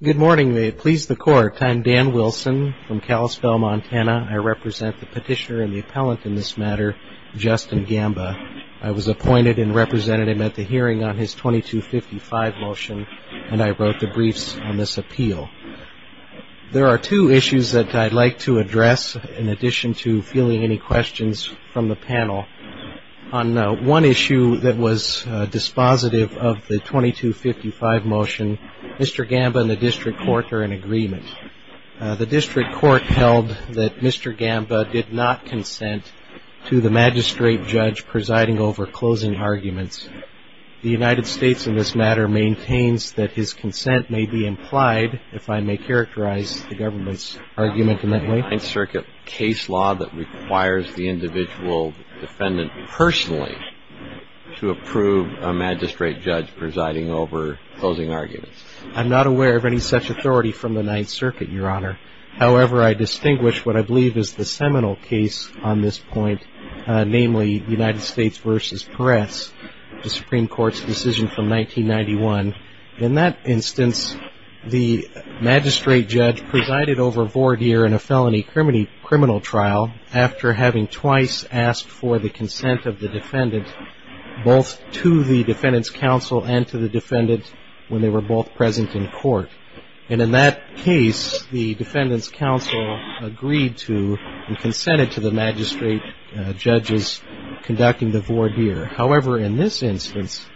Good morning. May it please the court, I'm Dan Wilson from Kalispell, Montana. I represent the petitioner and the appellant in this matter, Justin Gamba. I was appointed and represented him at the hearing on his 2255 motion and I wrote the briefs on this appeal. There are two issues that I'd like to address in addition to fielding any questions from the panel. On one issue that was dispositive of the 2255 motion, Mr. Gamba and the district court are in agreement. The district court held that Mr. Gamba did not consent to the magistrate judge presiding over closing arguments. The United States in this matter maintains that his consent may be implied if I may characterize the government's argument in that way. Is there a Ninth Circuit case law that requires the individual defendant personally to approve a magistrate judge presiding over closing arguments? I'm not aware of any such authority from the Ninth Circuit, Your Honor. However, I distinguish what I believe is the seminal case on this point, namely United States v. Perez, the Supreme Court's decision from 1991. In that instance, the magistrate judge presided over voir dire in a felony criminal trial after having twice asked for the consent of the defendant, both to the defendant's counsel and to the defendant when they were both present in court. And in that case, the defendant's counsel agreed to and consented to the magistrate judge's conducting the voir dire. However, in this instance,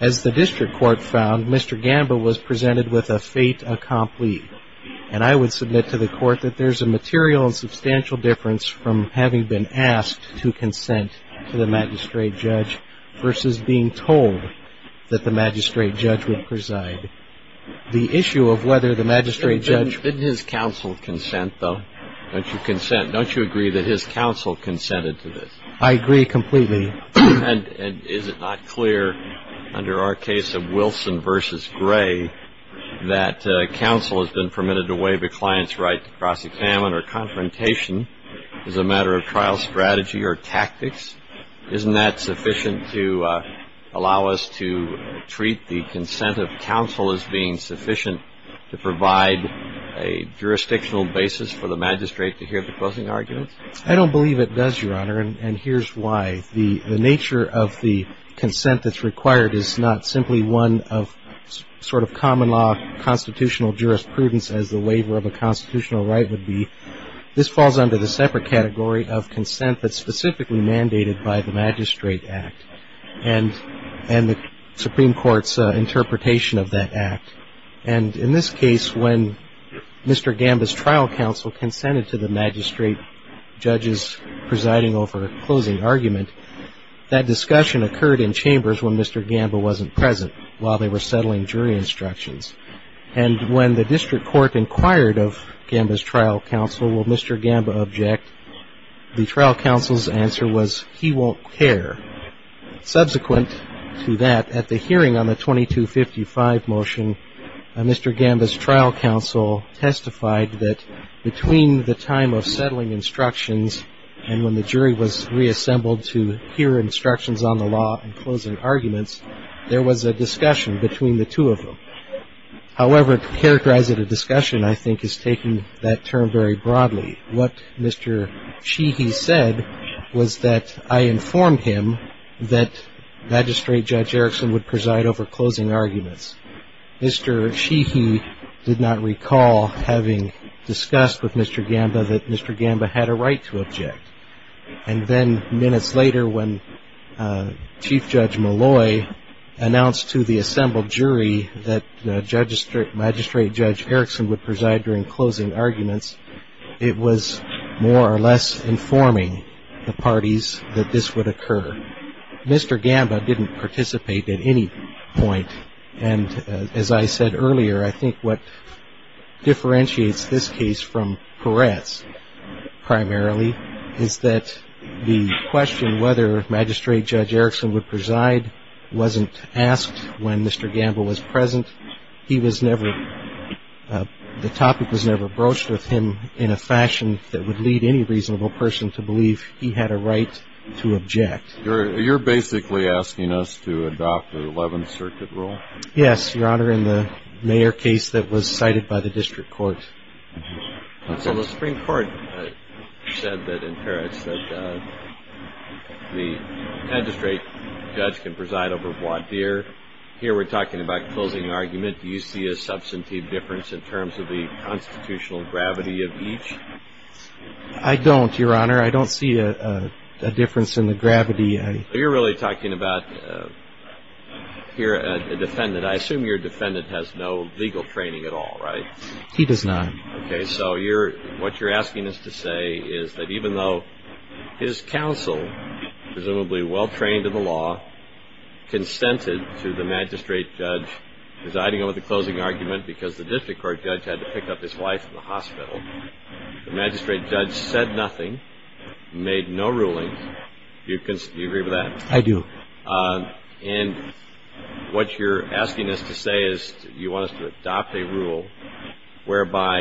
as the district court found, Mr. Gamba was presented with a fait accompli. And I would submit to the court that there's a material and substantial difference from having been asked to consent to the magistrate judge versus being told that the magistrate judge would preside. The issue of whether the magistrate judge... Didn't his counsel consent, though? Don't you consent? Don't you agree that his counsel consented to this? I agree completely. And is it not clear under our case of Wilson v. Gray that counsel has been permitted to waive a client's right to cross-examine or confrontation as a matter of trial strategy or tactics? Isn't that sufficient to allow us to treat the consent of counsel as being sufficient to provide a jurisdictional basis for the magistrate to hear the closing arguments? I don't believe it does, Your Honor. And here's why. The nature of the consent that's required is not simply one of sort of common law constitutional jurisprudence as the waiver of a constitutional right would be. This falls under the separate category of consent that's specifically mandated by the Magistrate Act and the Supreme Court's interpretation of that act. And in this case, when Mr. Gamba's trial counsel consented to the magistrate judge's presiding over a closing argument, that discussion occurred in chambers when Mr. Gamba wasn't present while they were settling jury instructions. And when the district court inquired of Gamba's trial counsel, will Mr. Gamba object, the trial counsel's answer was, he won't care. Subsequent to that, at the hearing on the 2255 motion, Mr. Gamba's trial counsel testified that between the time of settling instructions and when the jury was reassembled to hear instructions on the law and closing arguments, there was a discussion between the two of them. However, to characterize it, a discussion, I think, is taking that term very broadly. What Mr. Cheehy said was that I informed him that Magistrate Judge Erickson would preside over closing arguments. Mr. Cheehy did not recall having discussed with Mr. Gamba that Mr. Gamba had a right to object. And then minutes later, when Chief Judge Malloy announced to the assembled jury that Magistrate Judge Erickson would preside during closing arguments, it was more or less informing the parties that this would occur. Mr. Gamba didn't participate at any point. And as I said earlier, I think what differentiates this case from Peretz primarily is that the question whether Magistrate Judge Erickson would preside wasn't asked when Mr. Gamba was present. The topic was never broached with him in a fashion that would lead any reasonable person to believe he had a right to object. You're basically asking us to adopt the Eleventh Circuit rule? Yes, Your Honor, in the Mayer case that was cited by the district court. So the Supreme Court said that in Peretz that the magistrate judge can preside over voir dire. Here we're talking about closing argument. Do you see a substantive difference in terms of the constitutional gravity of each? I don't, Your Honor. I don't see a difference in the gravity. You're really talking about here a defendant. I assume your defendant has no legal training at all, right? He does not. Okay, so what you're asking us to say is that even though his counsel, presumably well trained in the law, consented to the magistrate judge presiding over the closing argument because the district court judge had to pick up his wife in the hospital, the magistrate judge said nothing, made no ruling. Do you agree with that? I do. And what you're asking us to say is you want us to adopt a rule whereby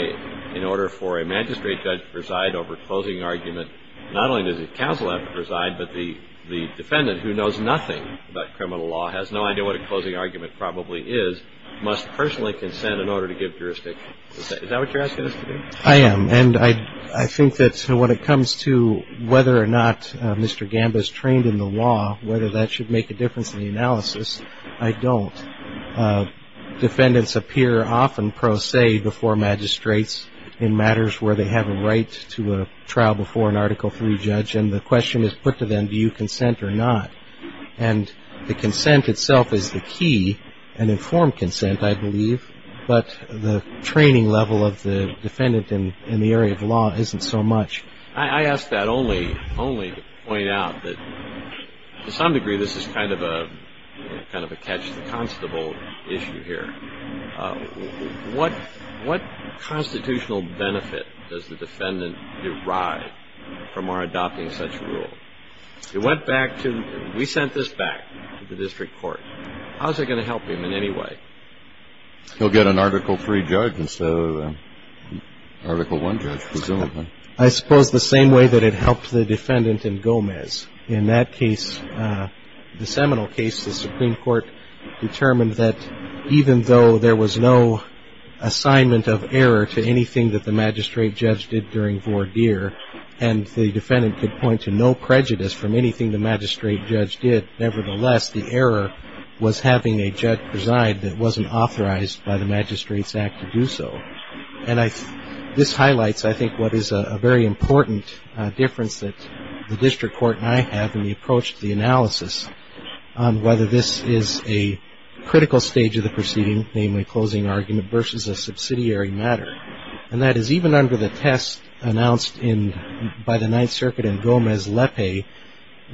in order for a magistrate judge to preside over closing argument, not only does the counsel have to preside, but the defendant who knows nothing about criminal law, has no idea what a closing argument probably is, must personally consent in order to give jurisdiction. Is that what you're asking us to do? I am. And I think that when it comes to whether or not Mr. Gamba is trained in the law, whether that should make a difference in the analysis, I don't. Defendants appear often pro se before magistrates in matters where they have a right to a trial before an Article III judge, and the question is put to them, do you consent or not? And the consent itself is the key, an informed consent I believe, but the training level of the defendant in the area of law isn't so much. I ask that only to point out that to some degree this is kind of a catch the constable issue here. What constitutional benefit does the defendant derive from our adopting such a rule? It went back to, we sent this back to the district court. How is it going to help him in any way? He'll get an Article III judge instead of an Article I judge presumably. I suppose the same way that it helped the defendant in Gomez. In that case, the seminal case, the Supreme Court determined that even though there was no assignment of error to anything that the magistrate judge did during and the defendant could point to no prejudice from anything the magistrate judge did, nevertheless the error was having a judge preside that wasn't authorized by the magistrate's act to do so. And this highlights I think what is a very important difference that the district court and I have in the approach to the analysis on whether this is a critical stage of the proceeding, namely closing argument, versus a subsidiary matter. And that is even under the test announced by the Ninth Circuit in Gomez-Lepe,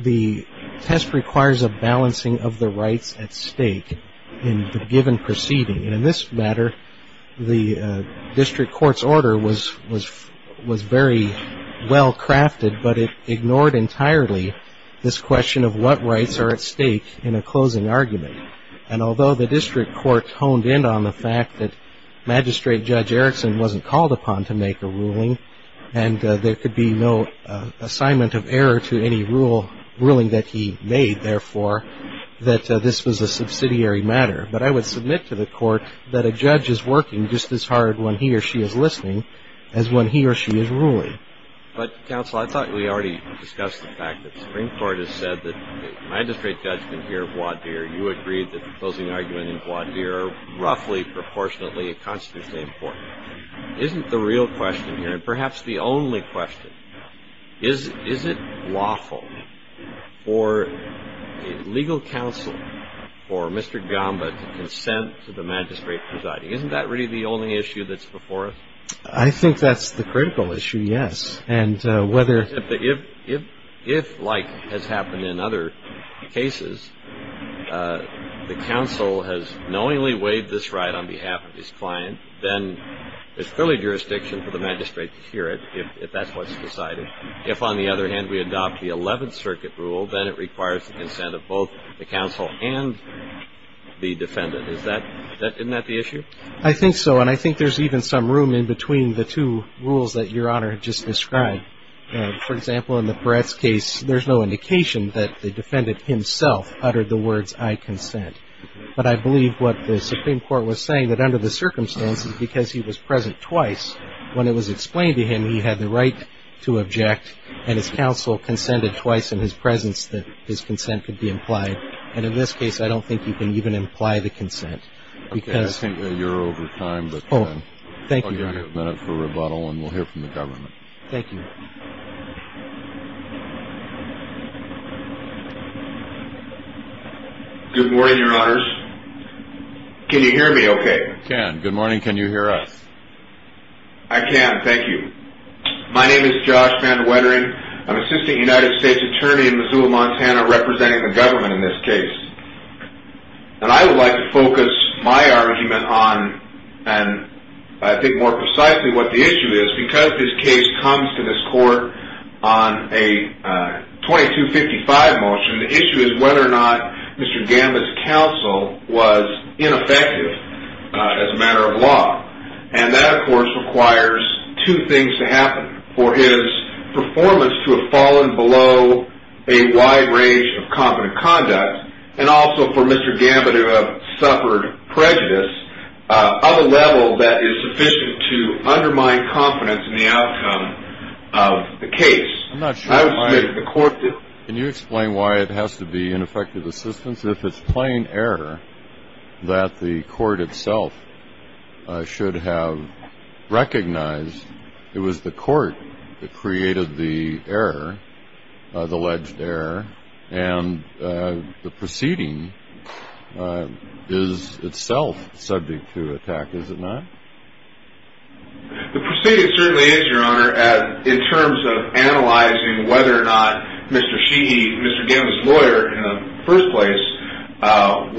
the test requires a balancing of the rights at stake in the given proceeding. And in this matter, the district court's order was very well crafted, but it ignored entirely this question of what rights are at stake in a closing argument. And although the district court honed in on the fact that Magistrate Judge Erickson wasn't called upon to make a ruling and there could be no assignment of error to any ruling that he made, therefore, that this was a subsidiary matter. But I would submit to the court that a judge is working just as hard when he or she is listening as when he or she is ruling. But, counsel, I thought we already discussed the fact that the Supreme Court has said that the magistrate judgment here at Wadeer, you agreed that the closing argument in Wadeer are roughly proportionately and constitutionally important. Isn't the real question here, and perhaps the only question, is it lawful for a legal counsel or Mr. Gamba to consent to the magistrate presiding? Isn't that really the only issue that's before us? I think that's the critical issue, yes. If, like has happened in other cases, the counsel has knowingly waived this right on behalf of his client, then there's clearly jurisdiction for the magistrate to hear it if that's what's decided. If, on the other hand, we adopt the Eleventh Circuit rule, then it requires the consent of both the counsel and the defendant. Isn't that the issue? I think so. And I think there's even some room in between the two rules that Your Honor just described. For example, in the Peretz case, there's no indication that the defendant himself uttered the words, I consent. But I believe what the Supreme Court was saying, that under the circumstances, because he was present twice, when it was explained to him, he had the right to object, and his counsel consented twice in his presence that his consent could be implied. And in this case, I don't think you can even imply the consent. Okay, I think that you're over time, but then I'll give you a minute for rebuttal, and we'll hear from the government. Thank you. Good morning, Your Honors. Can you hear me okay? We can. Good morning. Can you hear us? I can. Thank you. My name is Josh Van Wettering. I'm Assistant United States Attorney in Missoula, Montana, representing the government in this case. And I would like to focus my argument on, and I think more precisely what the issue is, because this case comes to this court on a 2255 motion, the issue is whether or not Mr. Gambit's counsel was ineffective as a matter of law. And that, of course, requires two things to happen. One, for his performance to have fallen below a wide range of competent conduct, and also for Mr. Gambit to have suffered prejudice of a level that is sufficient to undermine confidence in the outcome of the case. I'm not sure why the court did that. Can you explain why it has to be ineffective assistance? It's if it's plain error that the court itself should have recognized it was the court that created the error, the alleged error, and the proceeding is itself subject to attack, is it not? The proceeding certainly is, Your Honor, in terms of analyzing whether or not Mr. Sheehy, Mr. Gambit's lawyer in the first place,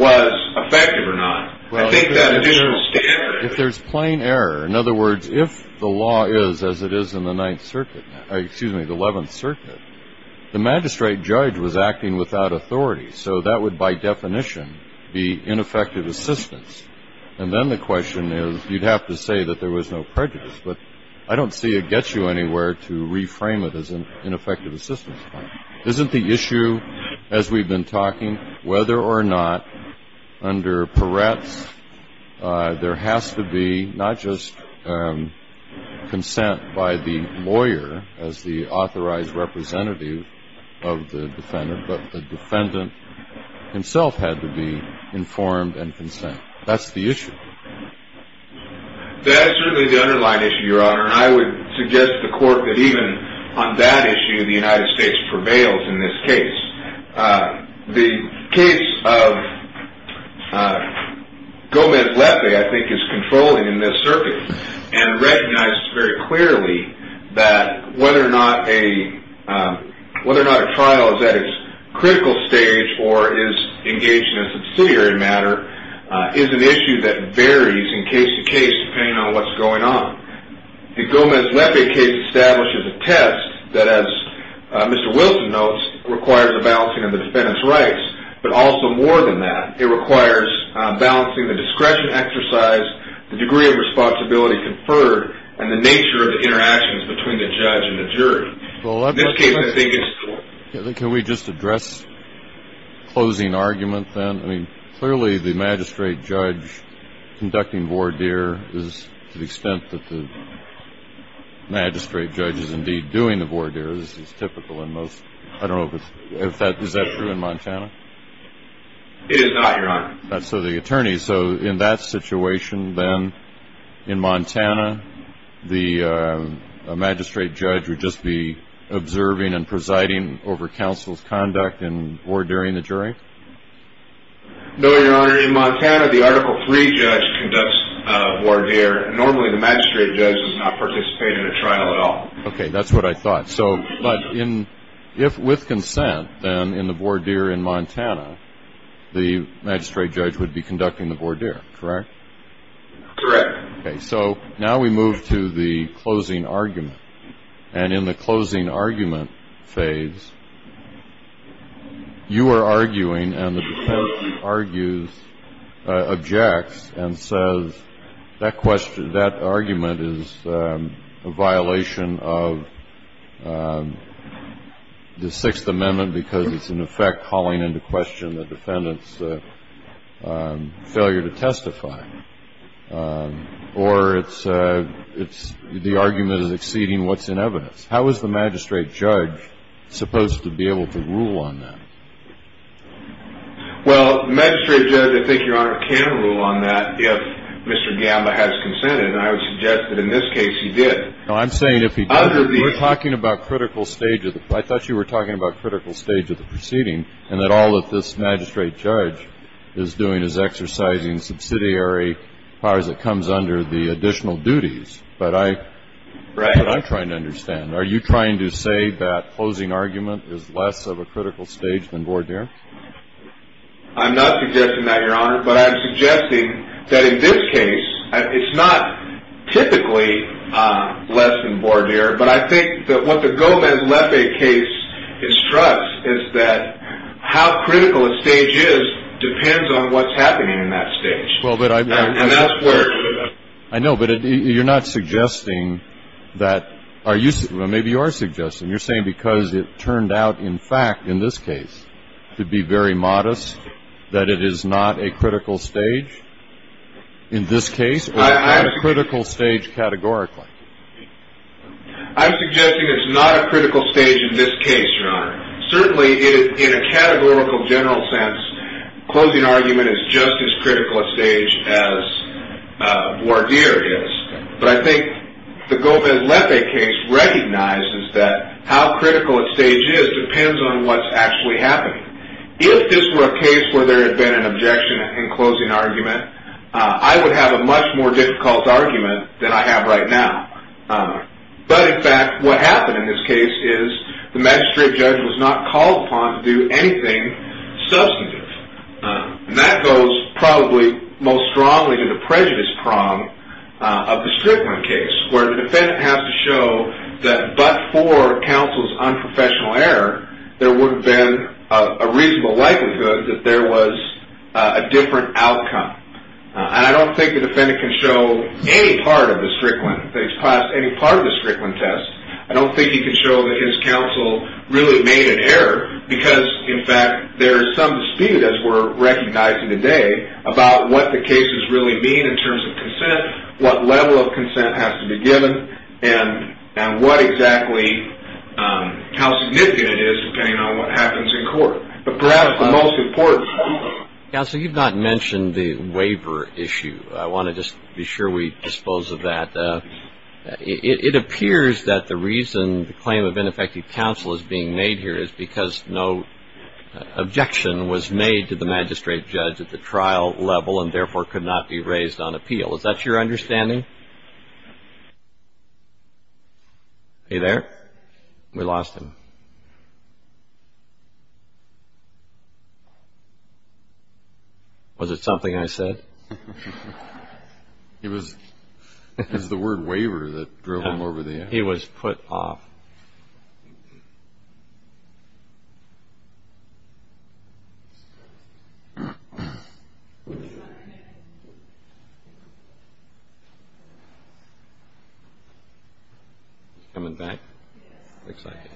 was effective or not. I think that additional standard... Well, if there's plain error, in other words, if the law is as it is in the Ninth Circuit, excuse me, the Eleventh Circuit, the magistrate judge was acting without authority. So that would, by definition, be ineffective assistance. And then the question is, you'd have to say that there was no prejudice, but I don't see it gets you anywhere to reframe it as ineffective assistance. Isn't the issue, as we've been talking, whether or not under Peretz, there has to be not just consent by the lawyer as the authorized representative of the defendant, but the defendant himself had to be informed and consent. That's the issue. That is certainly the underlying issue, Your Honor, and I would suggest to the court that even on that issue the United States prevails in this case. The case of Gomez-Lefe, I think, is controlling in this circuit and recognizes very clearly that whether or not a trial is at its critical stage or is engaged in a subsidiary matter is an issue that varies in case to case depending on what's going on. The Gomez-Lefe case establishes a test that, as Mr. Wilson notes, requires a balancing of the defendant's rights, but also more than that. It requires balancing the discretion exercise, the degree of responsibility conferred, and the nature of the interactions between the judge and the jury. In this case, I think it's – Can we just address the closing argument then? I mean, clearly the magistrate judge conducting voir dire is to the extent that the magistrate judge is indeed doing the voir dire. This is typical in most – I don't know if it's – is that true in Montana? It is not, Your Honor. So the attorney – so in that situation then, in Montana, the magistrate judge would just be observing and presiding over counsel's conduct in voir dire-ing the jury? No, Your Honor. In Montana, the Article III judge conducts voir dire. Normally, the magistrate judge does not participate in a trial at all. Okay, that's what I thought. So – but in – if with consent, then, in the voir dire in Montana, the magistrate judge would be conducting the voir dire, correct? Correct. Okay, so now we move to the closing argument. And in the closing argument phase, you are arguing and the defendant argues – objects and says that question – that argument is a violation of the Sixth Amendment because it's, in effect, calling into question the defendant's failure to testify. Or it's – the argument is exceeding what's in evidence. How is the magistrate judge supposed to be able to rule on that? Well, the magistrate judge, I think, Your Honor, can rule on that if Mr. Gamba has consented. And I would suggest that in this case, he did. No, I'm saying if he doesn't, we're talking about critical stage of the – I thought you were talking about critical stage of the proceeding and that all that this magistrate judge is doing is exercising subsidiary powers that comes under the additional duties. But I'm trying to understand. Are you trying to say that closing argument is less of a critical stage than voir dire? I'm not suggesting that, Your Honor. But I'm suggesting that in this case, it's not typically less than voir dire. But I think that what the Gomez-Lepe case instructs is that how critical a stage is depends on what's happening in that stage. And that's blurred. I know. But you're not suggesting that – well, maybe you are suggesting. You're saying because it turned out, in fact, in this case, to be very modest, that it is not a critical stage in this case? It's not a critical stage categorically. I'm suggesting it's not a critical stage in this case, Your Honor. Certainly, in a categorical general sense, closing argument is just as critical a stage as voir dire is. But I think the Gomez-Lepe case recognizes that how critical a stage is depends on what's actually happening. If this were a case where there had been an objection in closing argument, I would have a much more difficult argument than I have right now. But, in fact, what happened in this case is the magistrate judge was not called upon to do anything substantive. And that goes probably most strongly to the prejudice prong of the Strickland case, where the defendant has to show that but for counsel's unprofessional error, there would have been a reasonable likelihood that there was a different outcome. And I don't think the defendant can show any part of the Strickland – that he's passed any part of the Strickland test. I don't think he can show that his counsel really made an error because, in fact, there is some dispute, as we're recognizing today, about what the cases really mean in terms of consent, what level of consent has to be given, and what exactly – how significant it is depending on what happens in court. But perhaps the most important – Counsel, you've not mentioned the waiver issue. I want to just be sure we dispose of that. It appears that the reason the claim of ineffective counsel is being made here is because no objection was made to the magistrate judge at the trial level and, therefore, could not be raised on appeal. Is that your understanding? Are you there? We lost him. Was it something I said? It was the word waiver that drove him over the edge. He was put off. He's coming back. Looks like it.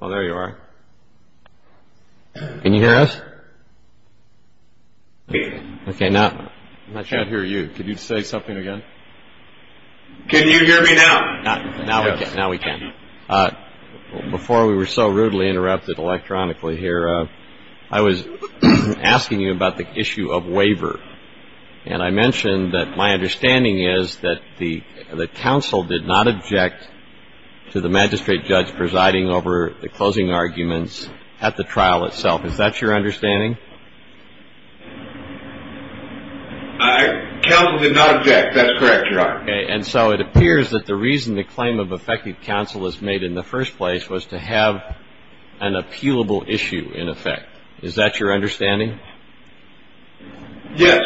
Oh, there you are. Can you hear us? Okay, now – I can't hear you. Could you say something again? Can you hear me now? Now we can. Before we were so rudely interrupted electronically here, I was asking you about the issue of waiver. And I mentioned that my understanding is that the counsel did not object to the magistrate judge presiding over the closing arguments at the trial itself. Is that your understanding? Counsel did not object. That's correct, Your Honor. And so it appears that the reason the claim of effective counsel was made in the first place was to have an appealable issue in effect. Is that your understanding? Yes.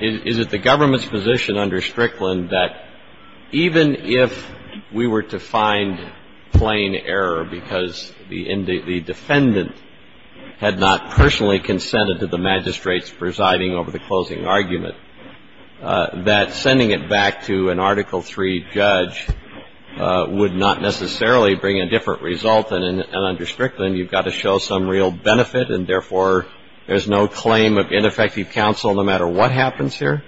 Is it the government's position under Strickland that even if we were to find plain error because the defendant had not personally consented to the magistrate's presiding over the closing argument, that sending it back to an Article III judge would not necessarily bring a different result? And under Strickland, you've got to show some real benefit, and therefore there's no claim of ineffective counsel no matter what happens here?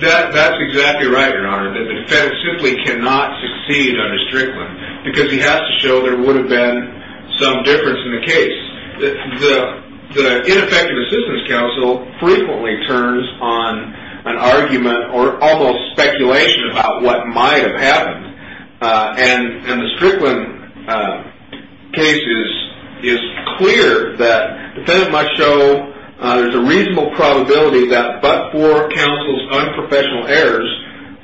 That's exactly right, Your Honor. The defendant simply cannot succeed under Strickland because he has to show there would have been some difference in the case. The ineffective assistance counsel frequently turns on an argument or almost speculation about what might have happened. And the Strickland case is clear that the defendant must show there's a reasonable probability that but for counsel's unprofessional errors,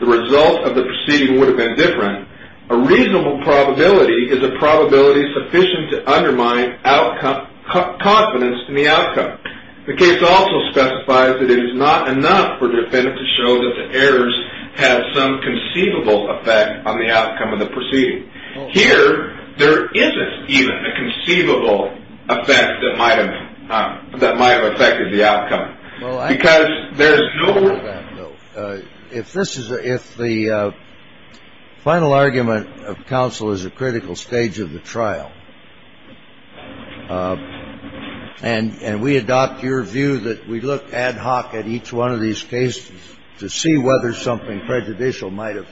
the result of the proceeding would have been different. A reasonable probability is a probability sufficient to undermine confidence in the outcome. The case also specifies that it is not enough for the defendant to show that the errors have some conceivable effect on the outcome of the proceeding. Here, there isn't even a conceivable effect that might have affected the outcome. If the final argument of counsel is a critical stage of the trial, and we adopt your view that we look ad hoc at each one of these cases to see whether something prejudicial might have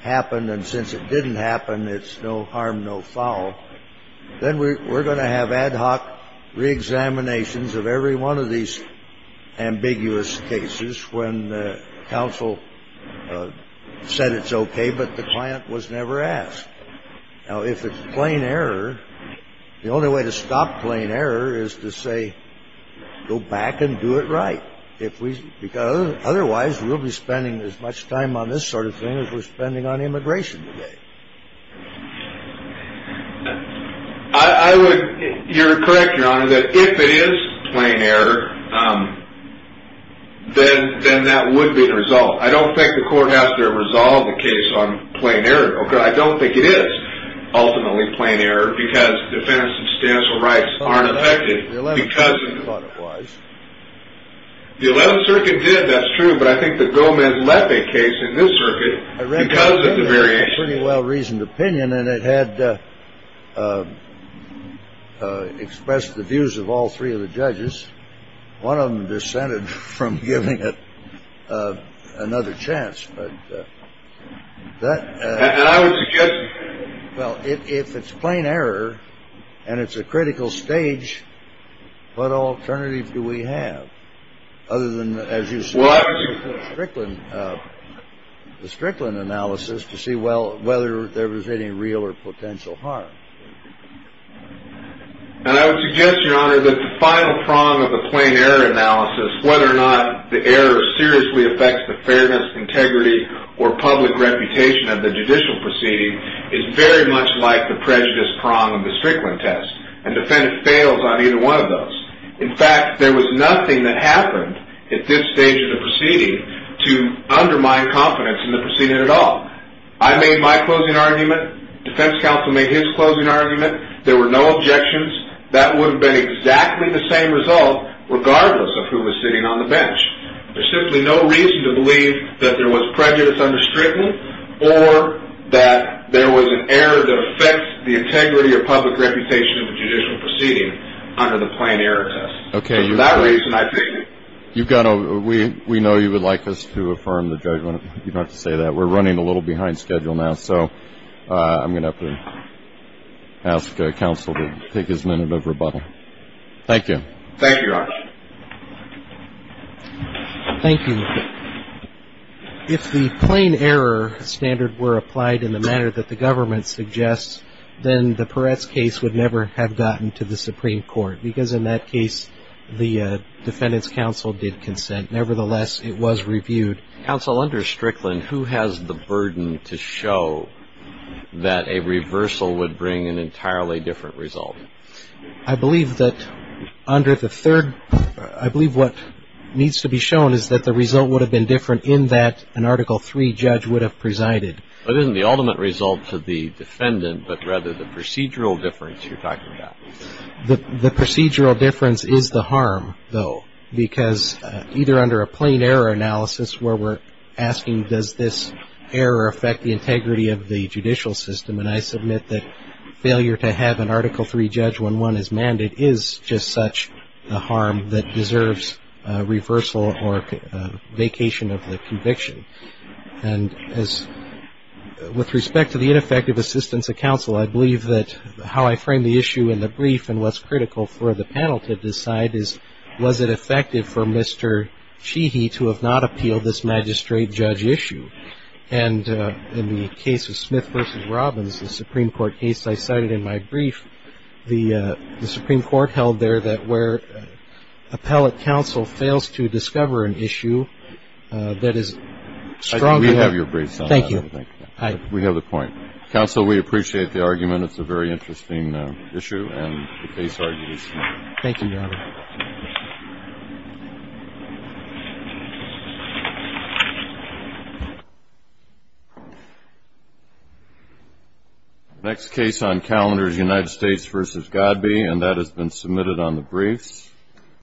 happened, and since it didn't happen, it's no harm, no foul, then we're going to have ad hoc reexaminations of every one of these ambiguous cases when counsel said it's okay but the client was never asked. Now, if it's plain error, the only way to stop plain error is to say go back and do it right. Otherwise, we'll be spending as much time on this sort of thing as we're spending on immigration today. I would – you're correct, Your Honor, that if it is plain error, then that would be the result. I don't think the court has to resolve a case on plain error, okay? I don't think it is ultimately plain error because defense and substantial rights aren't affected because – The 11th Circuit thought it was. The 11th Circuit did. That's true. But I think that Goldman left a case in this circuit because of the variation. I recognize that's a pretty well-reasoned opinion, and it had expressed the views of all three of the judges. One of them dissented from giving it another chance, but that – And I would suggest – Well, if it's plain error and it's a critical stage, what alternative do we have other than, as you said – Well, I would use the Strickland analysis to see whether there was any real or potential harm. And I would suggest, Your Honor, that the final prong of the plain error analysis, whether or not the error seriously affects the fairness, integrity, or public reputation of the judicial proceeding, is very much like the prejudice prong of the Strickland test, and the defendant fails on either one of those. In fact, there was nothing that happened at this stage of the proceeding to undermine confidence in the proceeding at all. I made my closing argument. Defense counsel made his closing argument. There were no objections. That would have been exactly the same result regardless of who was sitting on the bench. There's simply no reason to believe that there was prejudice under Strickland or that there was an error that affects the integrity or public reputation of the judicial proceeding under the plain error test. Okay. So for that reason, I take it. We know you would like us to affirm the judgment. You don't have to say that. We're running a little behind schedule now, so I'm going to have to ask counsel to take his minute of rebuttal. Thank you. Thank you, Your Honor. Thank you. If the plain error standard were applied in the manner that the government suggests, then the Peretz case would never have gotten to the Supreme Court, because in that case the defendant's counsel did consent. Nevertheless, it was reviewed. Counsel, under Strickland, who has the burden to show that a reversal would bring an entirely different result? I believe that under the third, I believe what needs to be shown is that the result would have been different in that an Article III judge would have presided. But isn't the ultimate result to the defendant, but rather the procedural difference you're talking about? The procedural difference is the harm, though, because either under a plain error analysis where we're asking, does this error affect the integrity of the judicial system? And I submit that failure to have an Article III judge when one is mandated is just such a harm that deserves reversal or vacation of the conviction. And with respect to the ineffective assistance of counsel, I believe that how I frame the issue in the brief and what's critical for the panel to decide is, was it effective for Mr. Cheehy to have not appealed this magistrate-judge issue? And in the case of Smith v. Robbins, the Supreme Court case I cited in my brief, the Supreme Court held there that where appellate counsel fails to discover an issue that is strongly harmful. We have your briefs on that. Thank you. We have the point. Counsel, we appreciate the argument. It's a very interesting issue and the case argues. Thank you, Your Honor. Thank you. The next case on calendar is United States v. Godby, and that has been submitted on the briefs.